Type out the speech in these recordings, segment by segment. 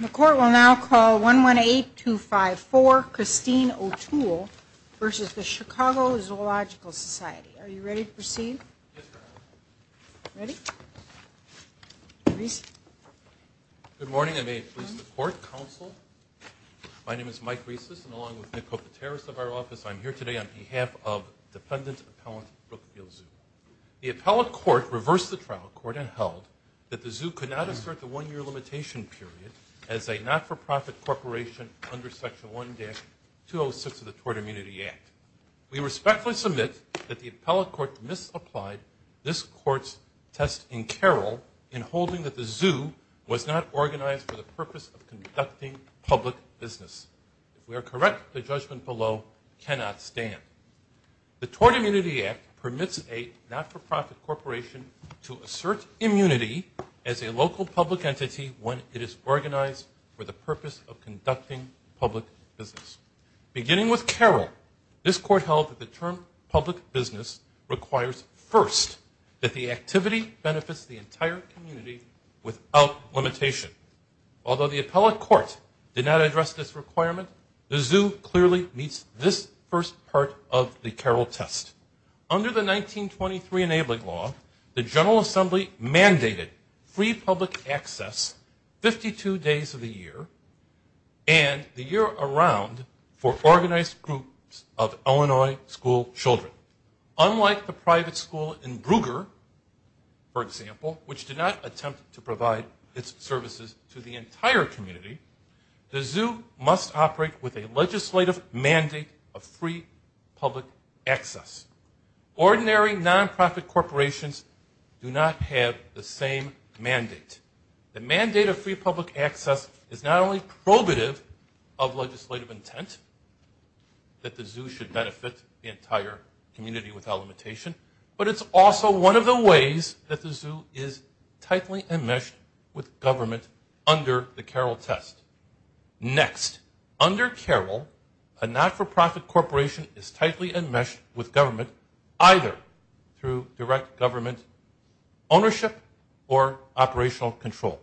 The Court will now call 118254 Christine O'Toole v. Chicago Zoological Society. Are you ready to proceed? Yes, Your Honor. Ready? Good morning, and may it please the Court, Counsel. My name is Mike Rieses, and along with Nick Kopateris of our office, I'm here today on behalf of Dependent Appellant Brookfield Zoo. The appellate court reversed the trial court and held that the zoo could not assert the one-year limitation period as a not-for-profit corporation under Section 1-206 of the Tort Immunity Act. We respectfully submit that the appellate court misapplied this court's test in Carroll in holding that the zoo was not organized for the purpose of conducting public business. If we are correct, the judgment below cannot stand. The Tort Immunity Act permits a not-for-profit corporation to assert immunity as a local public entity when it is organized for the purpose of conducting public business. Beginning with Carroll, this court held that the term public business requires first that the activity benefits the entire community without limitation. Although the appellate court did not address this requirement, the zoo clearly meets this first part of the Carroll test. Under the 1923 enabling law, the General Assembly mandated free public access 52 days of the year and the year around for organized groups of Illinois school children. Unlike the private school in Brugger, for example, which did not attempt to provide its services to the entire community, the zoo must operate with a legislative mandate of free public access. Ordinary non-profit corporations do not have the same mandate. The mandate of free public access is not only probative of legislative intent that the zoo should benefit the entire community without limitation, but it's also one of the ways that the zoo is tightly enmeshed with government under the Carroll test. Next, under Carroll, a not-for-profit corporation is tightly enmeshed with government either through direct government ownership or operational control.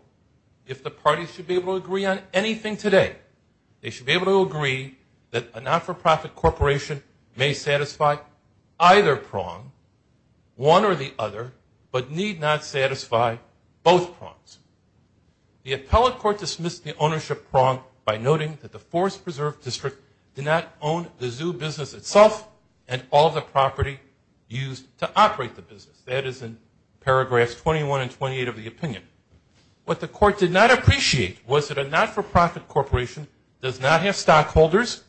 If the parties should be able to agree on anything today, they should be able to agree that a not-for-profit corporation may satisfy either prong, one or the other, but need not satisfy both prongs. The appellate court dismissed the ownership prong by noting that the Forest Preserve District did not own the zoo business itself and all the property used to operate the business. That is in paragraphs 21 and 28 of the opinion. What the court did not appreciate was that a not-for-profit corporation does not have stockholders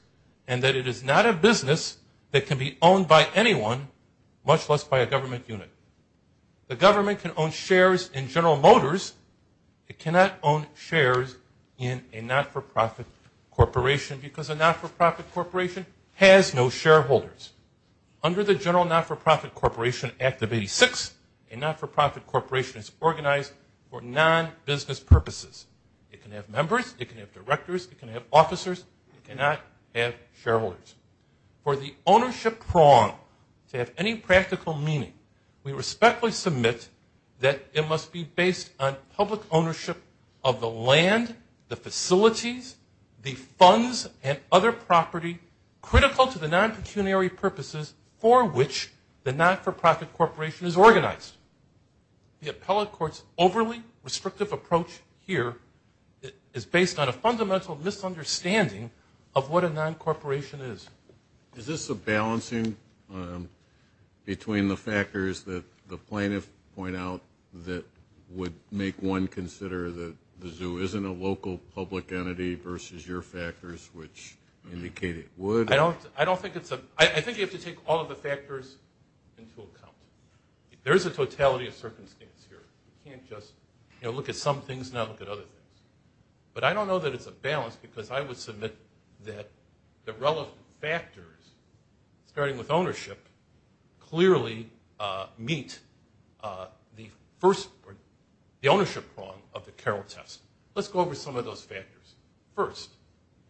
and that it is not a business that can be owned by anyone, much less by a government unit. The government can own shares in General Motors. It cannot own shares in a not-for-profit corporation because a not-for-profit corporation has no shareholders. Under the General Not-for-Profit Corporation Act of 86, a not-for-profit corporation is organized for non-business purposes. It can have members, it can have directors, it can have officers. It cannot have shareholders. For the ownership prong to have any practical meaning, we respectfully submit that it must be based on public ownership of the land, the facilities, the funds, and other property critical to the non-pecuniary purposes for which the not-for-profit corporation is organized. The appellate court's overly restrictive approach here is based on a fundamental misunderstanding of what a non-corporation is. Is this a balancing between the factors that the plaintiffs point out that would make one consider that the zoo isn't a local public entity versus your factors which indicate it would? I think you have to take all of the factors into account. There is a totality of circumstance here. You can't just look at some things and not look at other things. But I don't know that it's a balance because I would submit that the relevant factors, starting with ownership, clearly meet the ownership prong of the Carroll test. Let's go over some of those factors. First,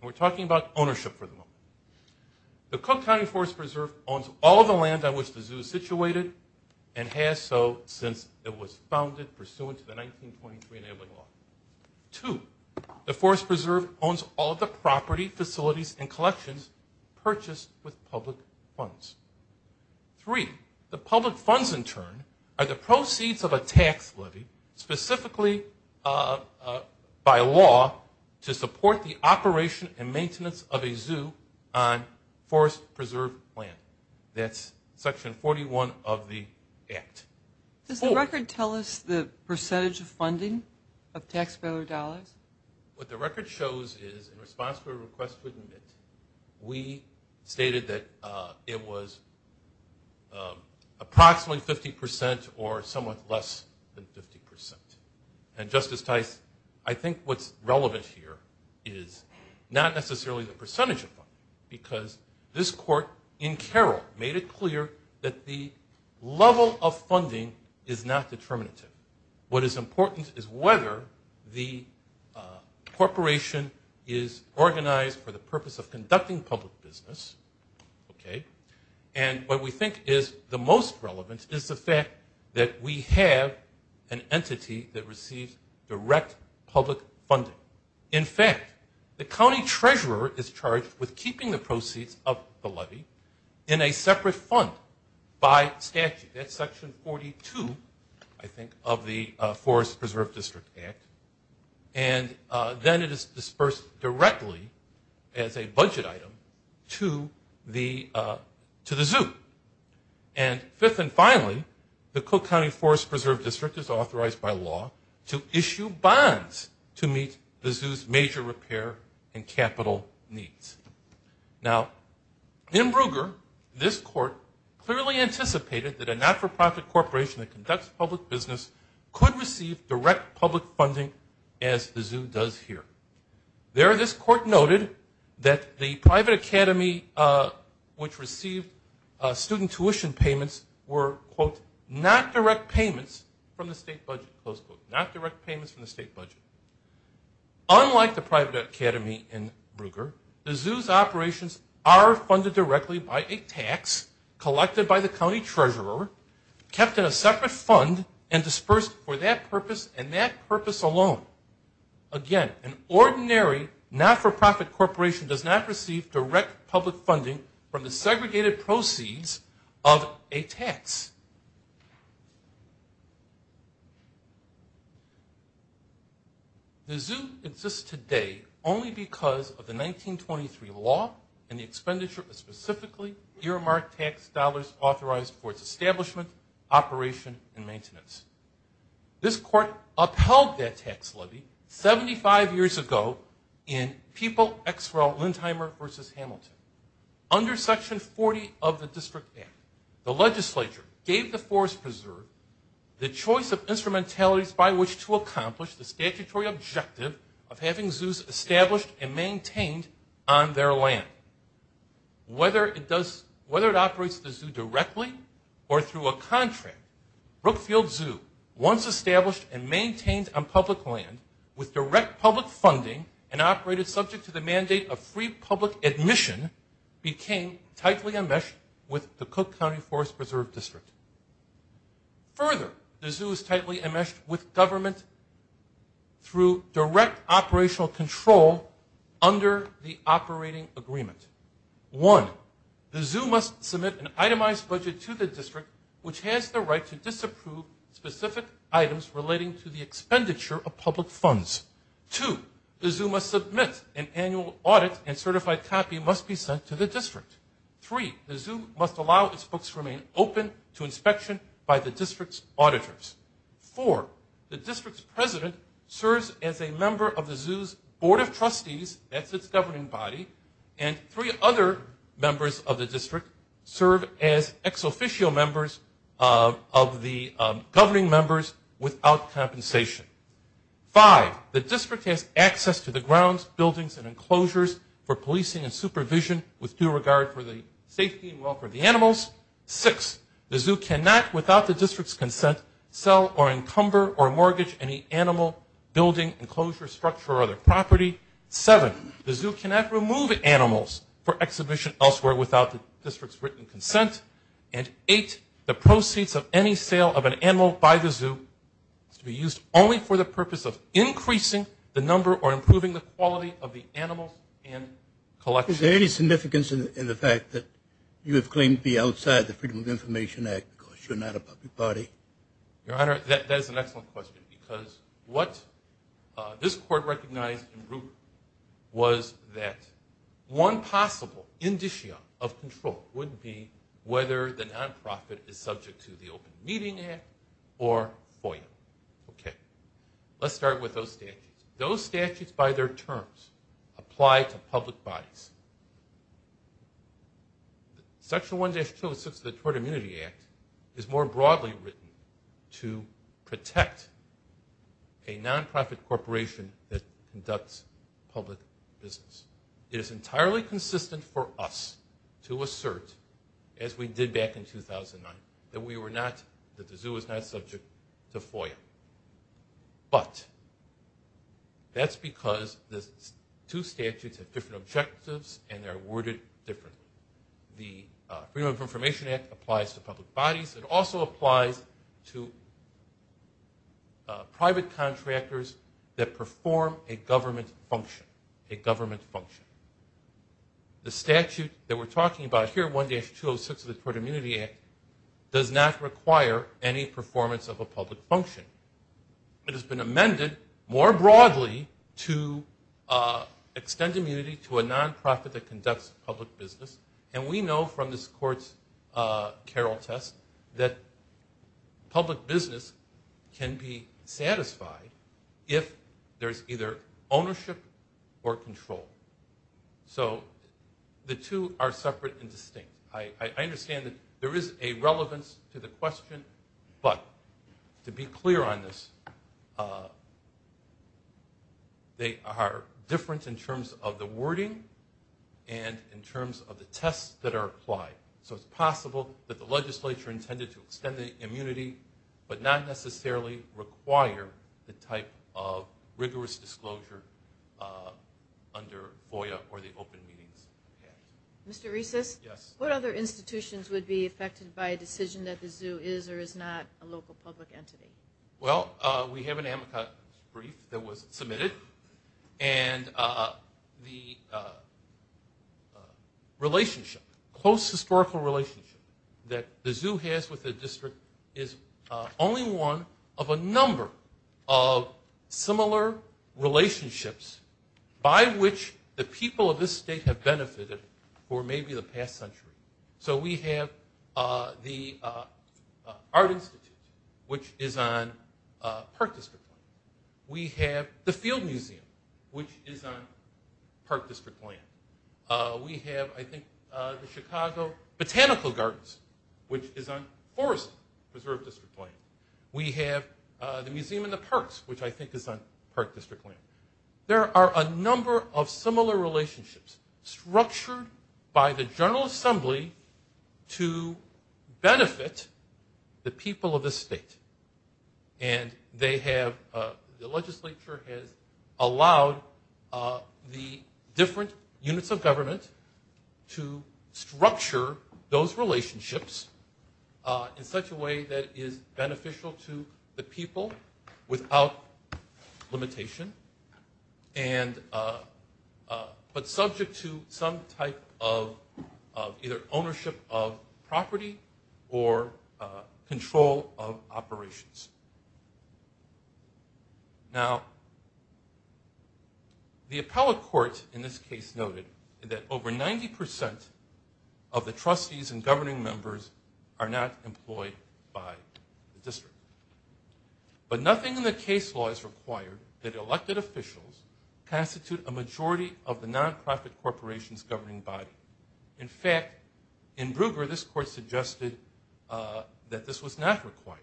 we're talking about ownership for the moment. The Cook County Forest Preserve owns all of the land on which the zoo is situated and has so since it was founded pursuant to the 1923 enabling law. Two, the Forest Preserve owns all of the property, facilities, and collections purchased with public funds. Three, the public funds in turn are the proceeds of a tax levy specifically by law to support the operation and maintenance of a zoo on Forest Preserve land. That's Section 41 of the Act. Does the record tell us the percentage of funding of taxpayer dollars? What the record shows is in response to a request with MIT, we stated that it was approximately 50 percent or somewhat less than 50 percent. And, Justice Tice, I think what's relevant here is not necessarily the percentage of funding because this court in Carroll made it clear that the level of funding is not determinative. What is important is whether the corporation is organized for the purpose of conducting public business. And what we think is the most relevant is the fact that we have an entity that receives direct public funding. In fact, the county treasurer is charged with keeping the proceeds of the levy in a separate fund by statute. That's Section 42, I think, of the Forest Preserve District Act. And then it is dispersed directly as a budget item to the zoo. And fifth and finally, the Cook County Forest Preserve District is authorized by law to issue bonds to meet the zoo's major repair and capital needs. Now, in Brugger, this court clearly anticipated that a not-for-profit corporation that conducts public business could receive direct public funding as the zoo does here. There, this court noted that the private academy which received student tuition payments were, quote, not direct payments from the state budget, close quote, not direct payments from the state budget. Unlike the private academy in Brugger, the zoo's operations are funded directly by a tax collected by the county treasurer, kept in a separate fund, and dispersed for that purpose and that purpose alone. Again, an ordinary not-for-profit corporation does not receive direct public funding from the segregated proceeds of a tax. The zoo exists today only because of the 1923 law and the expenditure of specifically earmarked tax dollars authorized for its establishment, operation, and maintenance. This court upheld that tax levy 75 years ago in People, Exwell, Lindheimer v. Hamilton. Under Section 40 of the District Act, the legislature gave the Forest Preserve the choice of instrumentalities by which to accomplish the statutory objective of having zoos established and maintained on their land. Whether it operates the zoo directly or through a contract, Brookfield Zoo, once established and maintained on public land with direct public funding and operated subject to the mandate of free public admission, became tightly enmeshed with the Cook County Forest Preserve District. Further, the zoo is tightly enmeshed with government through direct operational control under the operating agreement. One, the zoo must submit an itemized budget to the district, which has the right to disapprove specific items relating to the expenditure of public funds. Two, the zoo must submit an annual audit and certified copy must be sent to the district. Three, the zoo must allow its books remain open to inspection by the district's auditors. Four, the district's president serves as a member of the zoo's board of trustees, that's its governing body, and three other members of the district serve as ex-officio members of the governing members without compensation. Five, the district has access to the grounds, buildings, and enclosures for policing and supervision with due regard for the safety and welfare of the animals. Six, the zoo cannot, without the district's consent, sell or encumber or mortgage any animal, building, enclosure, structure, or other property. Seven, the zoo cannot remove animals for exhibition elsewhere without the district's written consent. And eight, the proceeds of any sale of an animal by the zoo is to be used only for the purpose of increasing the number or improving the quality of the animals and collection. Is there any significance in the fact that you have claimed to be outside the Freedom of Information Act because you're not a public body? Your Honor, that is an excellent question because what this court recognized in root was that one possible indicia of control would be whether the nonprofit is subject to the Open Meeting Act or FOIA. Let's start with those statutes. Those statutes by their terms apply to public bodies. Section 1-206 of the Tort Immunity Act is more broadly written to protect a nonprofit corporation that conducts public business. It is entirely consistent for us to assert, as we did back in 2009, that we were not, that the zoo was not subject to FOIA. But that's because the two statutes have different objectives and they're worded differently. The Freedom of Information Act applies to public bodies. It also applies to private contractors that perform a government function, a government function. The statute that we're talking about here, 1-206 of the Tort Immunity Act, does not require any performance of a public function. It has been amended more broadly to extend immunity to a nonprofit that conducts public business. And we know from this court's Carroll test that public business can be satisfied if there's either ownership or control. So the two are separate and distinct. I understand that there is a relevance to the question. But to be clear on this, they are different in terms of the wording and in terms of the tests that are applied. So it's possible that the legislature intended to extend the immunity but not necessarily require the type of rigorous disclosure under FOIA or the Open Meetings Act. Mr. Reces, what other institutions would be affected by a decision that the zoo is or is not a local public entity? Well, we have an amicus brief that was submitted. And the relationship, close historical relationship that the zoo has with the district is only one of a number of similar relationships by which the people of this state have benefited for maybe the past century. So we have the Art Institute, which is on Park District land. We have the Field Museum, which is on Park District land. We have, I think, the Chicago Botanical Gardens, which is on Forest Preserve District land. We have the Museum of the Parks, which I think is on Park District land. There are a number of similar relationships structured by the General Assembly to benefit the people of this state. And they have, the legislature has allowed the different units of government to structure those relationships in such a way that is beneficial to the people without limitation, but subject to some type of either ownership of property or control of operations. Now, the appellate court in this case noted that over 90% of the trustees and governing members are not employed by the district. But nothing in the case law is required that elected officials constitute a majority of the nonprofit corporation's governing body. In fact, in Brugger, this court suggested that this was not required.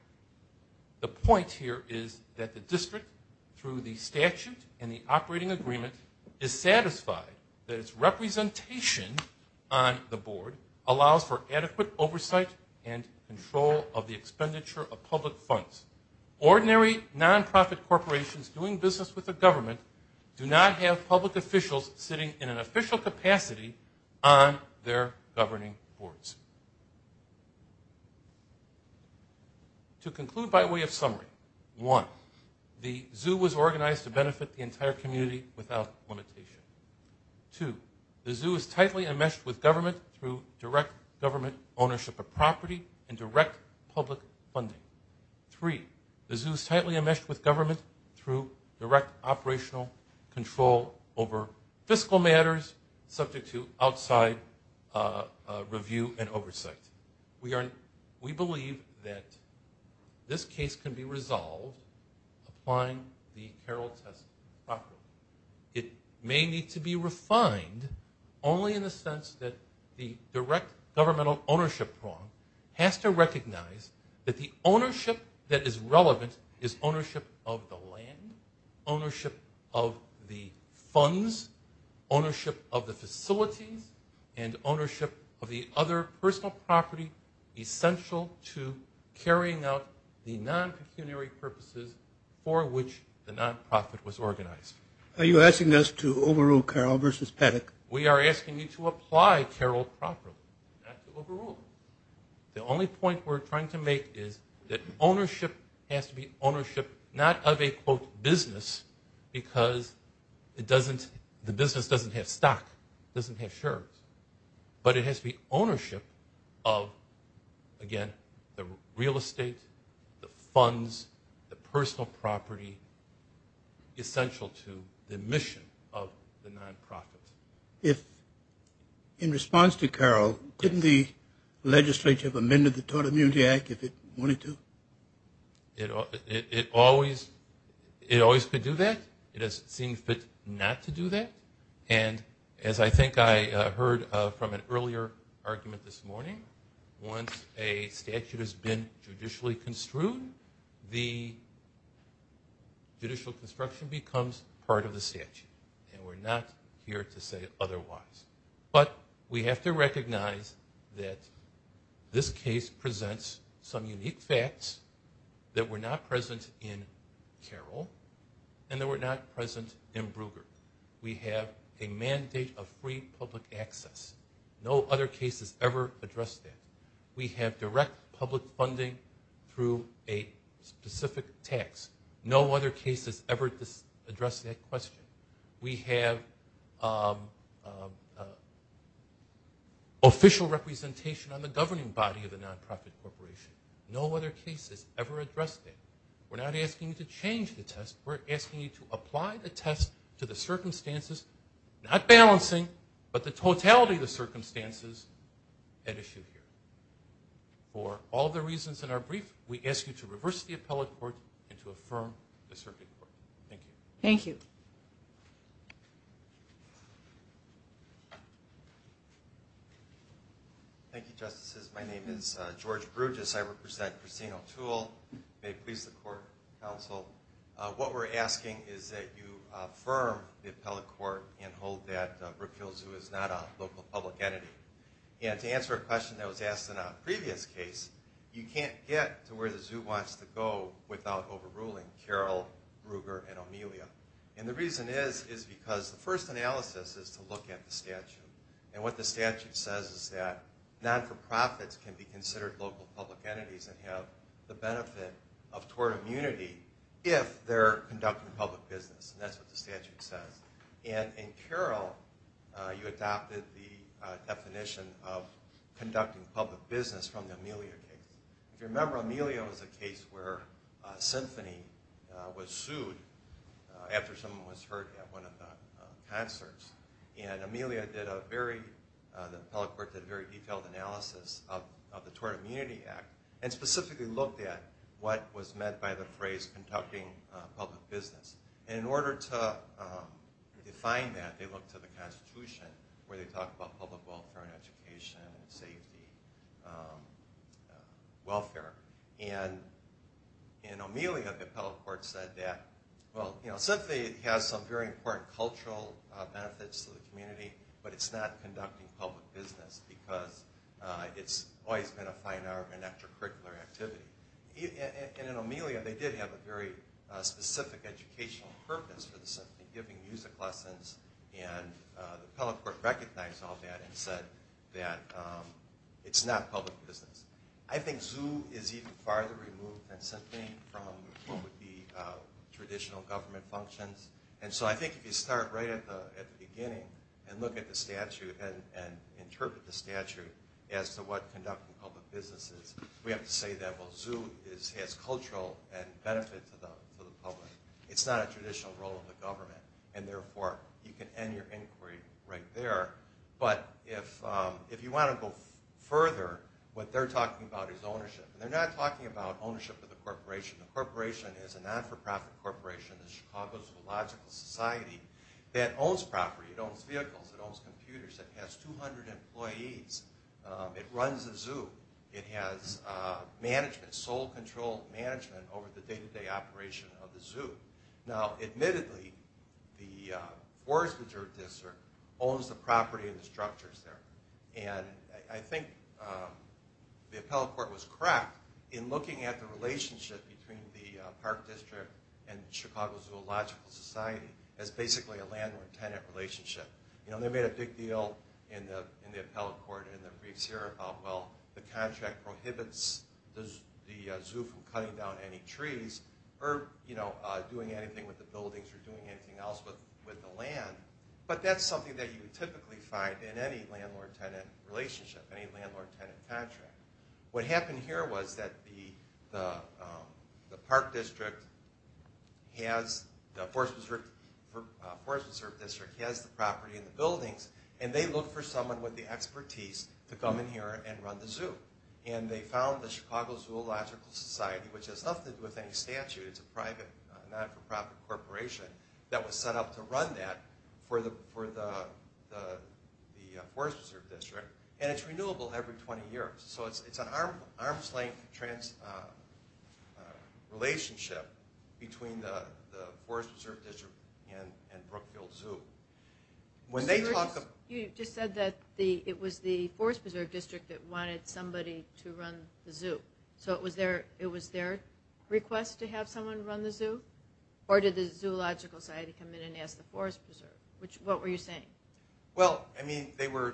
The point here is that the district, through the statute and the operating agreement, is satisfied that its representation on the board allows for adequate oversight and control of the expenditure of public funds. Ordinary nonprofit corporations doing business with the government do not have public officials sitting in an official capacity on their governing boards. To conclude by way of summary, one, the zoo was organized to benefit the entire community without limitation. Two, the zoo is tightly enmeshed with government through direct government ownership of property and direct public funding. Three, the zoo is tightly enmeshed with government through direct operational control over fiscal matters subject to outside review and oversight. We believe that this case can be resolved applying the Carroll test properly. It may need to be refined only in the sense that the direct governmental ownership prong has to recognize that the ownership that is relevant is ownership of the land, ownership of the funds, ownership of the facilities, and ownership of the other personal property essential to carrying out the non-pecuniary purposes for which the nonprofit was organized. Are you asking us to overrule Carroll versus Paddock? We are asking you to apply Carroll properly, not to overrule it. The only point we're trying to make is that ownership has to be ownership not of a, quote, because it doesn't, the business doesn't have stock, doesn't have shares, but it has to be ownership of, again, the real estate, the funds, the personal property essential to the mission of the nonprofit. If in response to Carroll, couldn't the legislature have amended the Tort Immunity Act if it wanted to? It always could do that. It has seen fit not to do that. And as I think I heard from an earlier argument this morning, once a statute has been judicially construed, the judicial construction becomes part of the statute, and we're not here to say otherwise. But we have to recognize that this case presents some unique facts that were not present in Carroll and that were not present in Brugger. We have a mandate of free public access. No other case has ever addressed that. We have direct public funding through a specific tax. No other case has ever addressed that question. We have official representation on the governing body of the nonprofit corporation. No other case has ever addressed that. We're not asking you to change the test. We're asking you to apply the test to the circumstances, not balancing, but the totality of the circumstances at issue here. For all the reasons in our brief, we ask you to reverse the appellate court and to affirm the circuit court. Thank you. Thank you. Thank you, Justices. My name is George Brugis. I represent Christine O'Toole. May it please the court, counsel. What we're asking is that you affirm the appellate court and hold that Brookville Zoo is not a local public entity. And to answer a question that was asked in a previous case, you can't get to where the zoo wants to go without overruling Carol, Ruger, and Amelia. And the reason is because the first analysis is to look at the statute. And what the statute says is that not-for-profits can be considered local public entities and have the benefit of tort immunity if they're conducting public business. And that's what the statute says. And in Carol, you adopted the definition of conducting public business from the Amelia case. If you remember, Amelia was a case where Symphony was sued after someone was hurt at one of the concerts. And Amelia did a very detailed analysis of the Tort Immunity Act and specifically looked at what was meant by the phrase conducting public business. And in order to define that, they looked to the Constitution where they talk about public welfare and education and safety and welfare. And in Amelia, the appellate court said that, well, Symphony has some very important cultural benefits to the community, but it's not conducting public business because it's always been a fine art and extracurricular activity. And in Amelia, they did have a very specific educational purpose for the Symphony, giving music lessons. And the appellate court recognized all that and said that it's not public business. I think ZOO is even farther removed than Symphony from what would be traditional government functions. And so I think if you start right at the beginning and look at the statute and interpret the statute as to what conducting public business is, we have to say that, well, ZOO has cultural benefits to the public. It's not a traditional role of the government. And therefore, you can end your inquiry right there. But if you want to go further, what they're talking about is ownership. And they're not talking about ownership of the corporation. The corporation is a not-for-profit corporation, the Chicago Zoological Society, that owns property, it owns vehicles, it owns computers, it has 200 employees. It runs the zoo. It has management, sole control management over the day-to-day operation of the zoo. Now, admittedly, the forest reserve district owns the property and the structures there. And I think the appellate court was correct in looking at the relationship between the park district and the Chicago Zoological Society as basically a landlord-tenant relationship. They made a big deal in the appellate court and the briefs here about, well, the contract prohibits the zoo from cutting down any trees or doing anything with the buildings or doing anything else with the land. But that's something that you typically find in any landlord-tenant relationship, any landlord-tenant contract. What happened here was that the park district has... the forest reserve district has the property and the buildings, and they look for someone with the expertise to come in here and run the zoo. And they found the Chicago Zoological Society, which has nothing to do with any statute. It's a private, not-for-profit corporation that was set up to run that for the forest reserve district. And it's renewable every 20 years. So it's an arm's-length relationship between the forest reserve district and Brookfield Zoo. When they talk about... You just said that it was the forest reserve district that wanted somebody to run the zoo. So it was their request to have someone run the zoo? Or did the Zoological Society come in and ask the forest reserve? What were you saying? Well, I mean, they were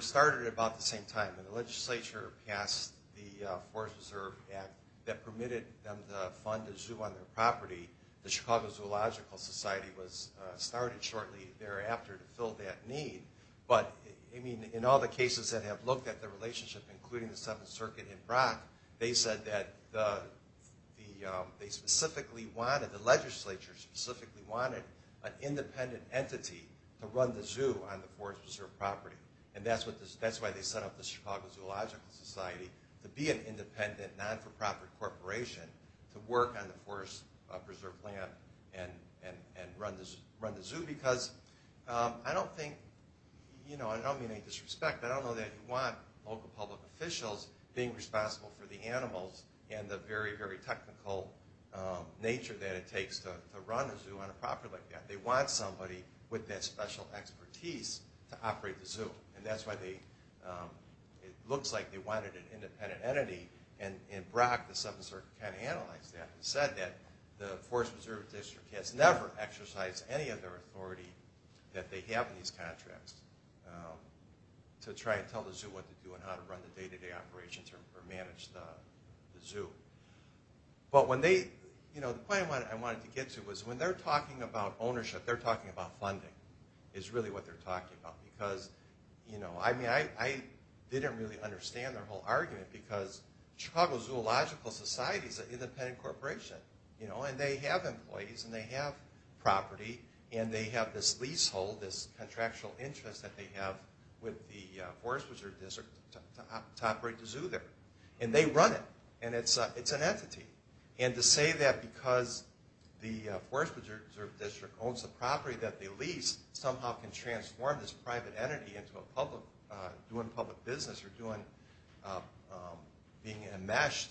started about the same time. When the legislature passed the Forest Preserve Act that permitted them to fund a zoo on their property, the Chicago Zoological Society was started shortly thereafter to fill that need. But, I mean, in all the cases that have looked at the relationship, including the Seventh Circuit in Brock, they said that they specifically wanted, the legislature specifically wanted, an independent entity to run the zoo on the forest preserve property. And that's why they set up the Chicago Zoological Society to be an independent, not-for-profit corporation to work on the forest preserve plan and run the zoo. Because I don't think... I don't mean any disrespect. I don't know that you want local public officials being responsible for the animals and the very, very technical nature that it takes to run a zoo on a property like that. They want somebody with that special expertise to operate the zoo. And that's why they... It looks like they wanted an independent entity. And in Brock, the Seventh Circuit kind of analyzed that and said that the Forest Preserve District has never exercised any of their authority that they have in these contracts to try and tell the zoo what to do and how to run the day-to-day operations or manage the zoo. But when they... The point I wanted to get to was when they're talking about ownership, they're talking about funding is really what they're talking about. Because I didn't really understand their whole argument because Chicago Zoological Society is an independent corporation. And they have employees and they have property and they have this leasehold, this contractual interest that they have with the Forest Preserve District to operate the zoo there. And they run it. And it's an entity. And to say that because the Forest Preserve District owns the property that they lease somehow can transform this private entity into doing public business or being enmeshed,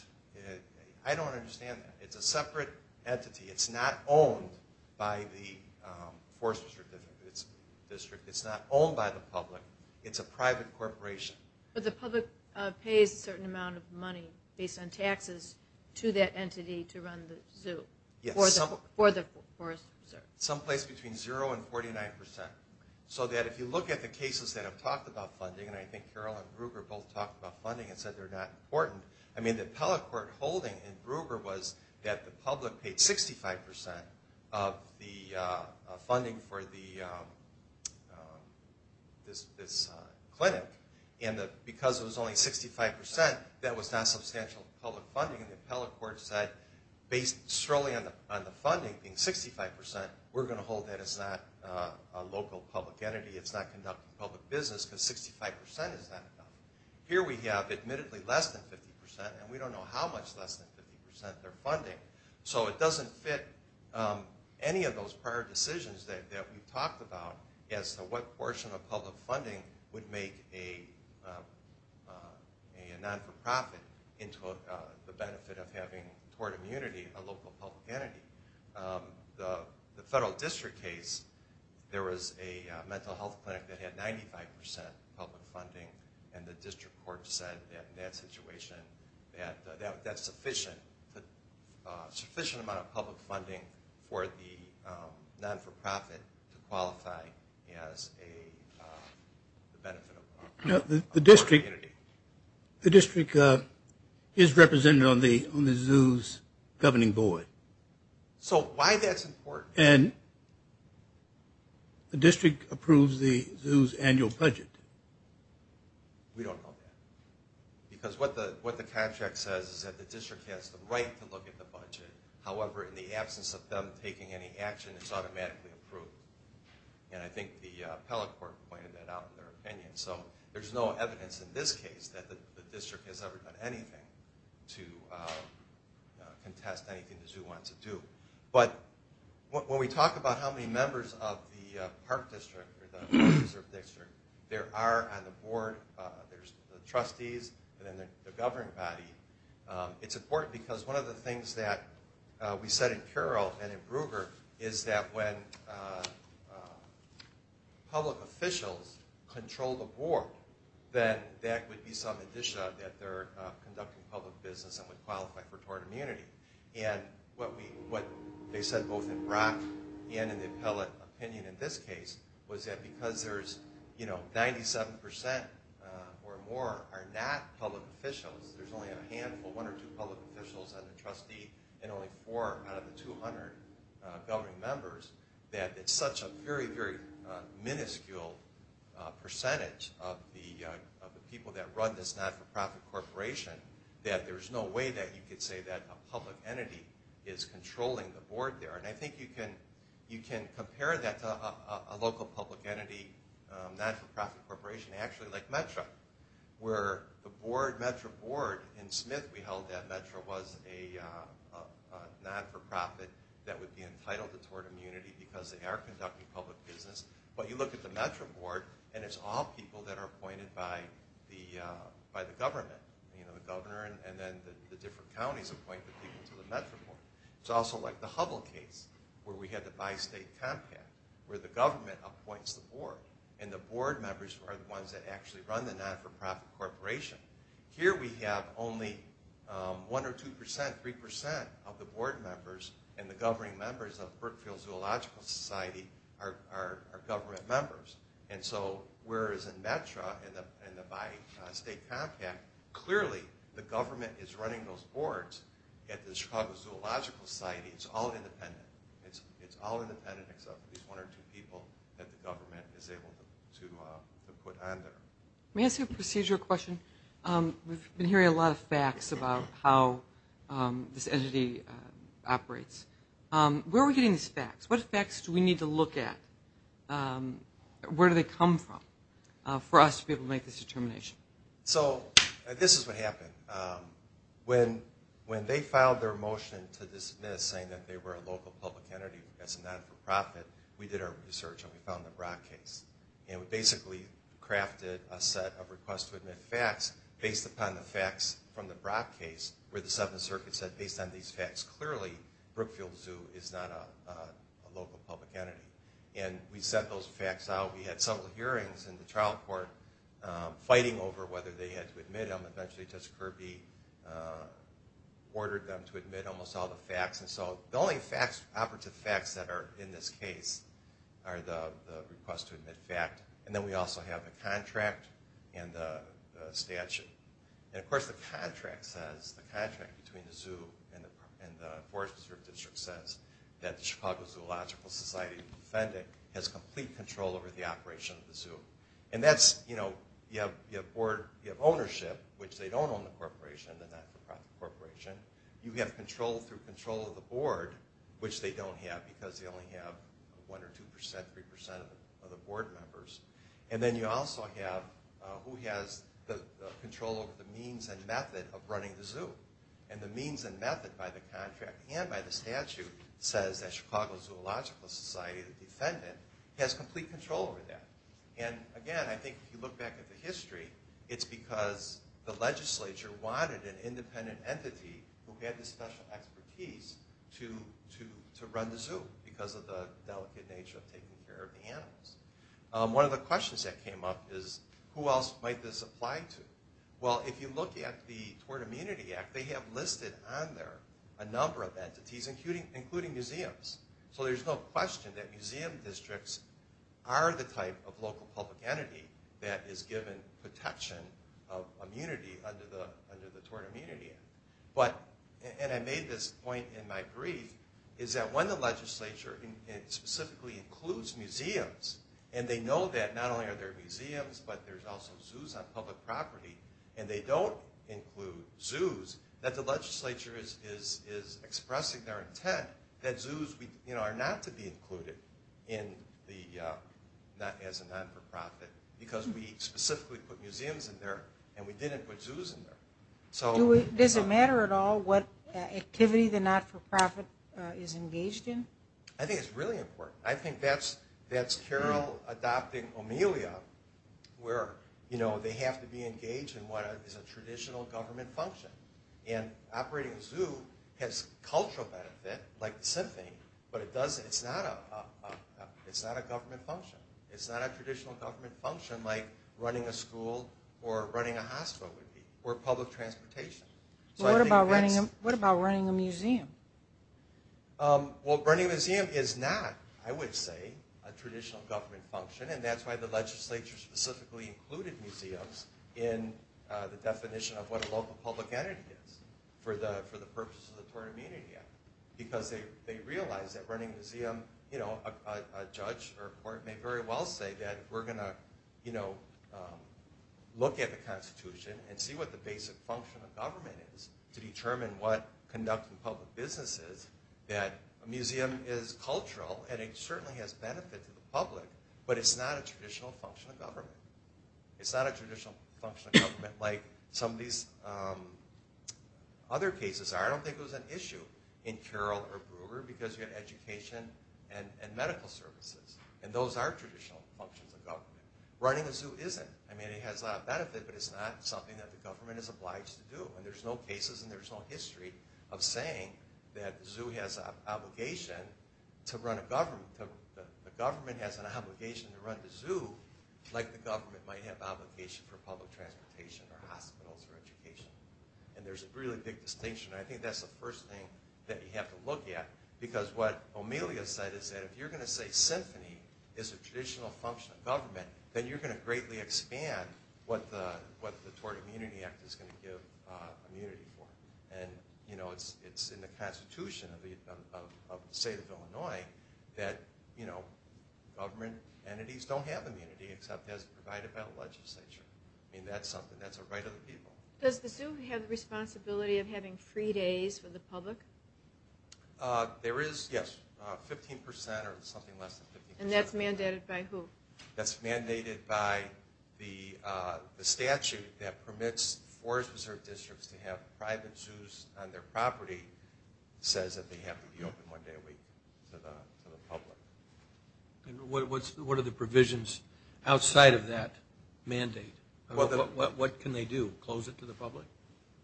I don't understand that. It's a separate entity. It's not owned by the Forest Preserve District. It's not owned by the public. It's a private corporation. But the public pays a certain amount of money based on taxes to that entity to run the zoo for the Forest Preserve. Someplace between 0% and 49%. So that if you look at the cases that have talked about funding, and I think Carol and Gruber both talked about funding and said they're not important. I mean, the appellate court holding in Gruber was that the public paid 65% of the funding for this clinic. And because it was only 65%, that was not substantial public funding. And the appellate court said, based solely on the funding being 65%, we're going to hold that as not a local public entity. It's not conducting public business because 65% is not enough. Here we have admittedly less than 50%, and we don't know how much less than 50% they're funding. So it doesn't fit any of those prior decisions that we've talked about as to what portion of public funding would make a non-for-profit into the benefit of having, toward immunity, a local public entity. The federal district case, there was a mental health clinic that had 95% public funding, and the district court said in that situation that that's sufficient, a sufficient amount of public funding for the non-for-profit to qualify as a benefit of community. The district is represented on the zoo's governing board. So why that's important? And the district approves the zoo's annual budget. We don't know that. Because what the contract says is that the district has the right to look at the budget. However, in the absence of them taking any action, it's automatically approved. And I think the appellate court pointed that out in their opinion. So there's no evidence in this case that the district has ever done anything to contest anything the zoo wants to do. But when we talk about how many members of the park district or the reserve district, there are on the board, there's the trustees and then the governing body. It's important because one of the things that we said in Carroll and in Brugger is that when public officials control the board, then that would be some addition that they're conducting public business and would qualify for toward immunity. And what they said both in Brock and in the appellate opinion in this case was that because 97% or more are not public officials, there's only a handful, one or two public officials and a trustee, and only four out of the 200 governing members, that it's such a very, very minuscule percentage of the people that run this not-for-profit corporation that there's no way that you could say that a public entity is controlling the board there. And I think you can compare that to a local public entity not-for-profit corporation actually like METRA, where the board, METRA board in Smith, we held that METRA was a not-for-profit that would be entitled toward immunity because they are conducting public business. But you look at the METRA board, and it's all people that are appointed by the government. The governor and then the different counties appoint the people to the METRA board. It's also like the Hubble case where we had the bi-state compact where the government appoints the board, and the board members are the ones that actually run the not-for-profit corporation. Here we have only one or two percent, three percent of the board members and the governing members of Brookfield Zoological Society are government members. And so whereas in METRA and the bi-state compact, clearly the government is running those boards at the Chicago Zoological Society, it's all independent. It's all independent except for these one or two people that the government is able to put on there. Let me ask you a procedure question. We've been hearing a lot of facts about how this entity operates. Where are we getting these facts? What facts do we need to look at? Where do they come from for us to be able to make this determination? So this is what happened. When they filed their motion to dismiss, saying that they were a local public entity as a not-for-profit, we did our research and we found the Brock case. And we basically crafted a set of requests to admit facts based upon the facts from the Brock case where the Seventh Circuit said based on these facts, clearly Brookfield Zoo is not a local public entity. And we set those facts out. We had several hearings in the trial court fighting over whether they had to admit them. And eventually Judge Kirby ordered them to admit almost all the facts. And so the only operative facts that are in this case are the request to admit fact. And then we also have the contract and the statute. And of course the contract says, the contract between the zoo and the Forest Preserve District says that the Chicago Zoological Society has complete control over the operation of the zoo. And that's, you know, you have ownership, which they don't own the corporation, the not-for-profit corporation. You have control through control of the board, which they don't have because they only have 1 or 2%, 3% of the board members. And then you also have who has the control over the means and method of running the zoo. And the means and method by the contract and by the statute says that Chicago Zoological Society, the defendant, has complete control over that. And again, I think if you look back at the history, it's because the legislature wanted an independent entity who had the special expertise to run the zoo because of the delicate nature of taking care of the animals. One of the questions that came up is, who else might this apply to? Well, if you look at the Tort Immunity Act, they have listed on there a number of entities, including museums. So there's no question that museum districts are the type of local public entity that is given protection of immunity under the Tort Immunity Act. And I made this point in my brief, is that when the legislature specifically includes museums, and they know that not only are there museums, but there's also zoos on public property, and they don't include zoos, that the legislature is expressing their intent that zoos are not to be included as a not-for-profit because we specifically put museums in there, and we didn't put zoos in there. Does it matter at all what activity the not-for-profit is engaged in? I think it's really important. I think that's Carroll adopting Omelia, where they have to be engaged in what is a traditional government function. And operating a zoo has cultural benefit, like the symphony, but it's not a government function. It's not a traditional government function like running a school or running a hospital would be, or public transportation. What about running a museum? Well, running a museum is not, I would say, a traditional government function, and that's why the legislature specifically included museums in the definition of what a local public entity is for the purpose of the Tort Immunity Act, because they realize that running a museum, a judge or a court may very well say that we're going to look at the Constitution and see what the basic function of government is to determine what conducting public business is, that a museum is cultural and it certainly has benefit to the public, but it's not a traditional function of government. It's not a traditional function of government like some of these other cases are. I don't think it was an issue in Carroll or Brewer because you had education and medical services, and those are traditional functions of government. Running a zoo isn't. I mean, it has a lot of benefit, but it's not something that the government is obliged to do, and there's no cases and there's no history of saying that the zoo has an obligation to run a government. The government has an obligation to run the zoo like the government might have an obligation for public transportation or hospitals or education, and there's a really big distinction. I think that's the first thing that you have to look at because what Amelia said is that if you're going to say symphony is a traditional function of government, then you're going to greatly expand what the Tort Immunity Act is going to give immunity for, and it's in the Constitution of the state of Illinois that government entities don't have immunity except as provided by the legislature. I mean, that's something. That's a right of the people. Does the zoo have the responsibility of having free days for the public? There is, yes, 15% or something less than 15%. And that's mandated by who? That's mandated by the statute that permits forest reserve districts to have private zoos on their property. It says that they have to be open one day a week to the public. And what are the provisions outside of that mandate? What can they do, close it to the public?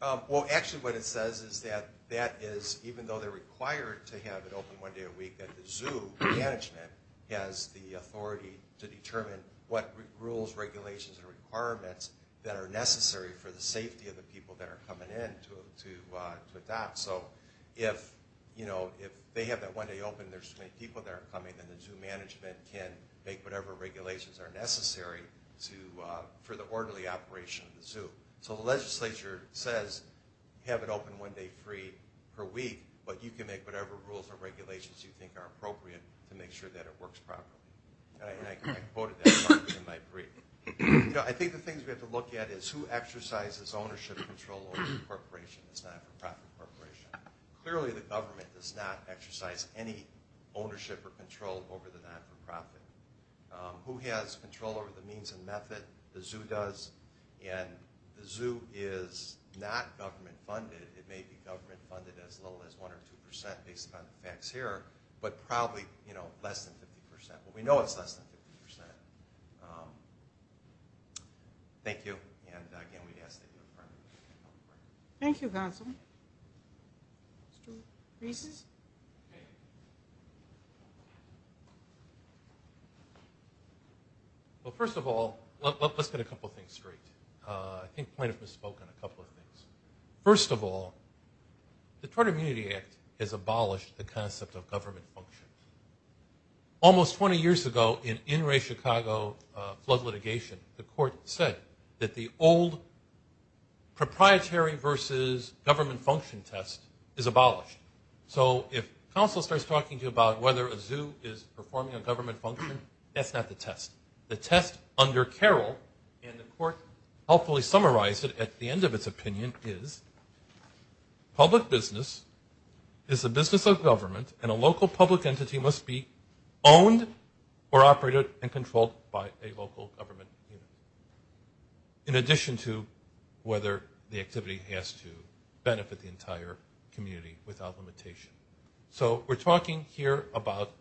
Well, actually what it says is that that is, even though they're required to have it open one day a week, that the zoo management has the authority to determine what rules, regulations, and requirements that are necessary for the safety of the people that are coming in to adopt. So if they have that one day open and there's too many people that are coming, then the zoo management can make whatever regulations are necessary for the orderly operation of the zoo. So the legislature says, have it open one day free per week, but you can make whatever rules or regulations you think are appropriate to make sure that it works properly. And I quoted that in my brief. I think the things we have to look at is who exercises ownership control over the corporation. It's not a private corporation. Clearly the government does not exercise any ownership or control over the not-for-profit. Who has control over the means and method? The zoo does. And the zoo is not government-funded. It may be government-funded as low as 1% or 2% based upon the facts here, but probably less than 50%. But we know it's less than 50%. Thank you. And again, we'd ask that you confirm. Thank you, Council. Mr. Reese. Well, first of all, let's get a couple things straight. I think the plaintiff misspoke on a couple of things. First of all, the Tort Immunity Act has abolished the concept of government functions. Almost 20 years ago, in in-ray Chicago flood litigation, the court said that the old proprietary versus government function test is abolished. So if counsel starts talking to you about whether a zoo is performing a government function, that's not the test. The test under Carroll, and the court helpfully summarized it at the end of its opinion, is public business is a business of government, and a local public entity must be owned or operated and controlled by a local government unit. In addition to whether the activity has to benefit the entire community without limitation. So we're talking here about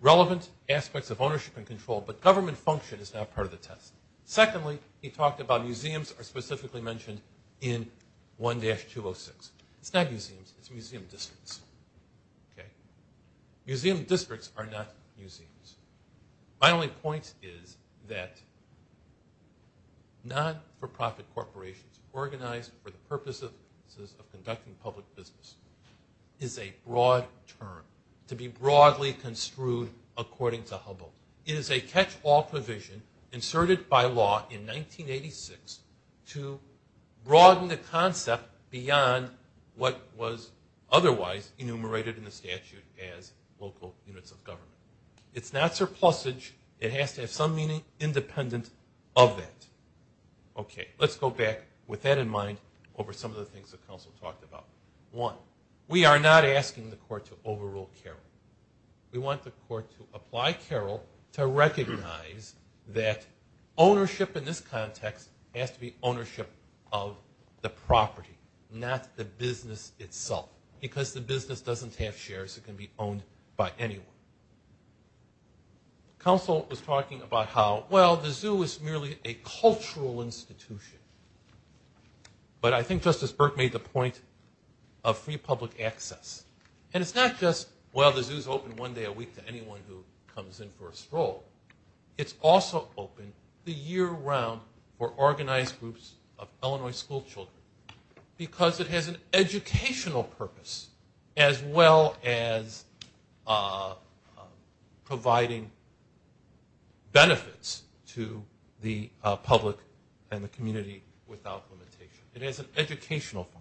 relevant aspects of ownership and control, but government function is not part of the test. Secondly, he talked about museums are specifically mentioned in 1-206. It's not museums, it's museum districts. Museum districts are not museums. My only point is that not-for-profit corporations organized for the purposes of conducting public business is a broad term, to be broadly construed according to Hubble. It is a catch-all provision inserted by law in 1986 to broaden the concept beyond what was otherwise enumerated in the statute as local units of government. It's not surplusage, it has to have some meaning independent of that. Okay, let's go back with that in mind over some of the things the council talked about. One, we are not asking the court to overrule Carroll. We want the court to apply Carroll to recognize that ownership in this context has to be ownership of the property, not the business itself, because the business doesn't have shares that can be owned by anyone. Council was talking about how, well, the zoo is merely a cultural institution. But I think Justice Burke made the point of free public access. And it's not just, well, the zoo's open one day a week to anyone who comes in for a stroll. It's also open the year-round for organized groups of Illinois school children because it has an educational purpose as well as providing benefits to the public and the community without limitation. It has an educational function.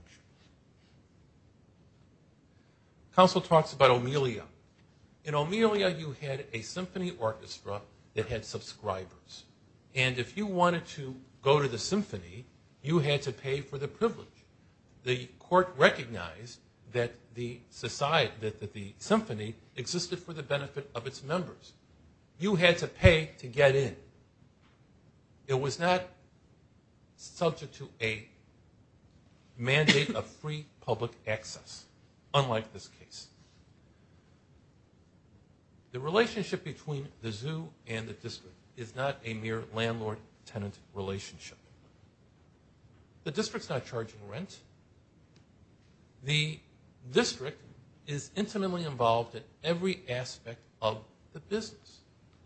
Council talks about Omelia. In Omelia, you had a symphony orchestra that had subscribers. And if you wanted to go to the symphony, you had to pay for the privilege. The court recognized that the symphony existed for the benefit of its members. You had to pay to get in. It was not subject to a mandate of free public access, unlike this case. The relationship between the zoo and the district is not a mere landlord-tenant relationship. The district's not charging rent. The district is intimately involved in every aspect of the business.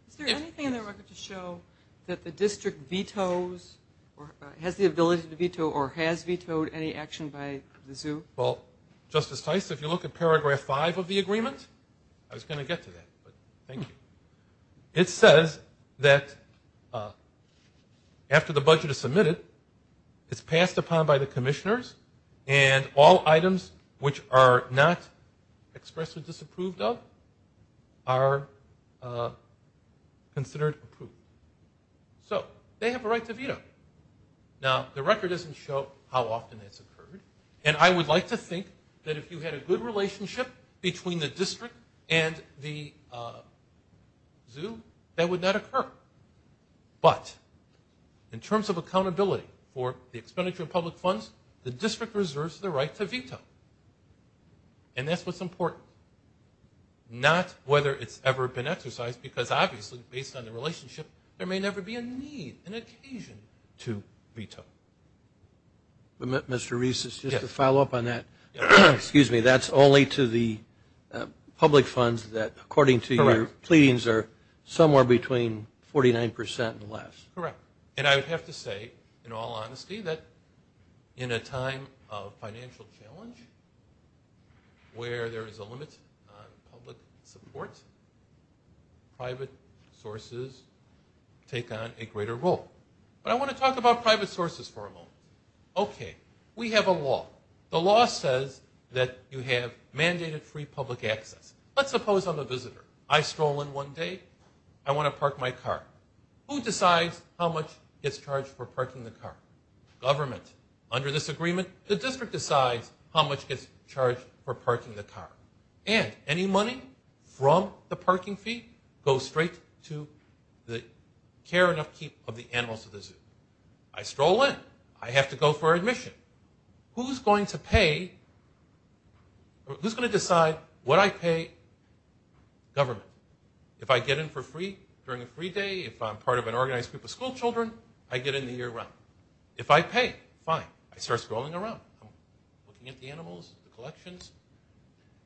Is there anything in the record to show that the district vetoes or has the ability to veto or has vetoed any action by the zoo? Well, Justice Tice, if you look at paragraph 5 of the agreement, I was going to get to that, but thank you, it says that after the budget is submitted, it's passed upon by the commissioners and all items which are not expressly disapproved of are considered approved. So they have a right to veto. Now, the record doesn't show how often that's occurred. And I would like to think that if you had a good relationship between the district and the zoo, that would not occur. But in terms of accountability for the expenditure of public funds, the district reserves the right to veto. And that's what's important. Not whether it's ever been exercised, because obviously, based on the relationship, there may never be a need, an occasion to veto. Mr. Reese, just to follow up on that, that's only to the public funds that according to your pleadings are somewhere between 49% and less. Correct. And I would have to say, in all honesty, that in a time of financial challenge where there is a limit on public support, private sources take on a greater role. But I want to talk about private sources for a moment. Okay. We have a law. The law says that you have mandated free public access. Let's suppose I'm a visitor. I stroll in one day. I want to park my car. Who decides how much gets charged for parking the car? Government. Under this agreement, the district decides how much gets charged for parking the car. And any money from the parking fee goes straight to the care and upkeep of the animals at the zoo. I stroll in. I have to go for admission. Who's going to decide what I pay government? If I get in for free during a free day, if I'm part of an organized group of school children, I get in the year-round. If I pay, fine. I start strolling around. I'm looking at the animals, the collections.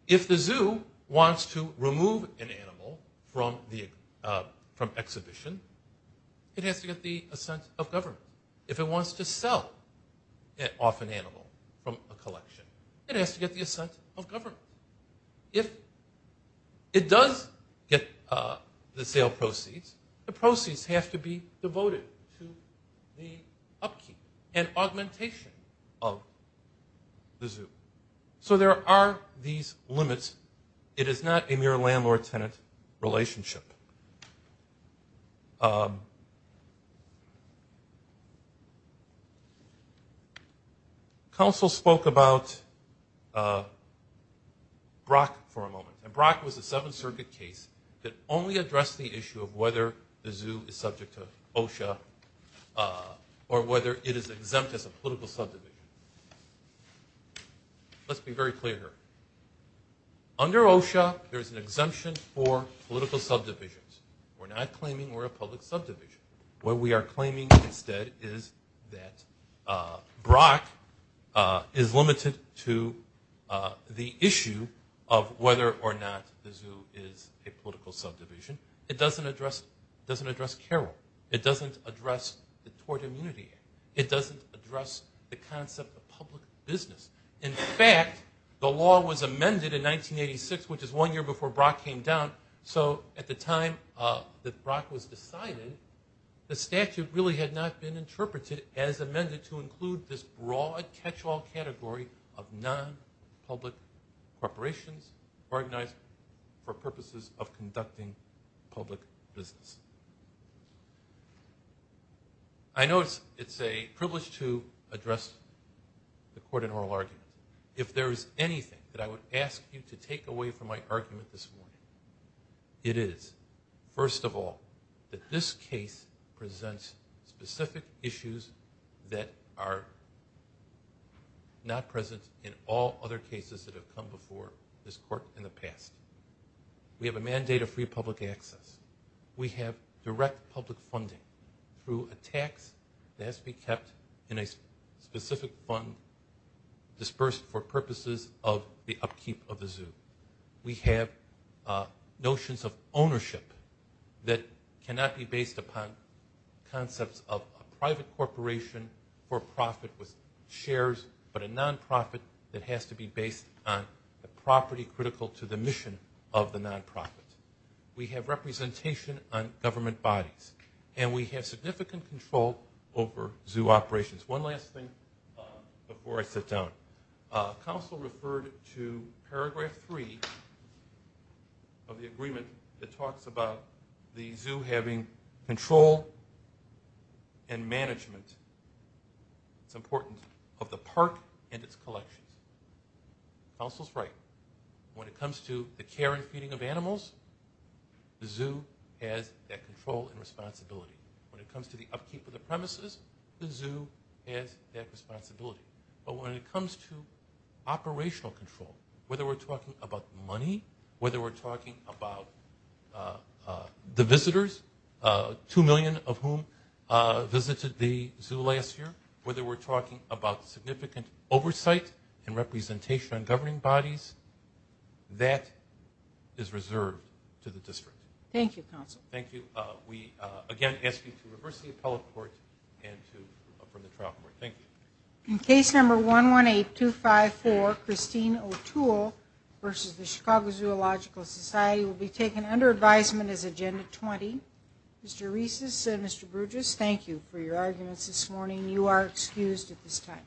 If the zoo wants to remove an animal from exhibition, it has to get the assent of government. If it wants to sell off an animal from a collection, it has to get the assent of government. If it does get the sale proceeds, the proceeds have to be devoted to the upkeep and augmentation of the zoo. So there are these limits. It is not a mere landlord-tenant relationship. Council spoke about Brock for a moment. Brock was a Seventh Circuit case that only addressed the issue of whether the zoo is subject to OSHA or whether it is exempt as a political subdivision. Let's be very clear here. Under OSHA, there is an exemption for political subdivisions. We're not claiming we're a public subdivision. What we are claiming instead is that Brock is limited to the issue of whether or not the zoo is a political subdivision. It doesn't address Carroll. It doesn't address the Tort Immunity Act. It doesn't address the concept of public business. In fact, the law was amended in 1986, which is one year before Brock came down. So at the time that Brock was decided, the statute really had not been interpreted as amended to include this broad catch-all category of non-public corporations organized for purposes of conducting public business. I know it's a privilege to address the court in oral argument. If there is anything that I would ask you to take away from my argument this morning, it is, first of all, that this case presents specific issues that are not present in all other cases that have come before this court in the past. We have a mandate of free public access. We have direct public funding through a tax that has to be kept in a specific fund dispersed for purposes of the upkeep of the zoo. We have notions of ownership that cannot be based upon concepts of a private corporation for profit with shares, but a non-profit that has to be based on a property critical to the mission of the non-profit. We have representation on government bodies, and we have significant control over zoo operations. One last thing before I sit down. Counsel referred to paragraph 3 of the agreement that talks about the zoo having control and management, it's important, of the park and its collections. Counsel's right. When it comes to the care and feeding of animals, the zoo has that control and responsibility. When it comes to the upkeep of the premises, the zoo has that responsibility. But when it comes to operational control, whether we're talking about money, whether we're talking about the visitors, two million of whom visited the zoo last year, whether we're talking about significant oversight and representation on governing bodies, that is reserved to the district. Thank you, Counsel. We again ask you to reverse the appellate court and to approve the trial court. In case number 118254, Christine O'Toole versus the Chicago Zoological Society will be taken under advisement as Agenda 20. Mr. Reeses and Mr. Brugess, thank you for your arguments this morning. You are excused at this time.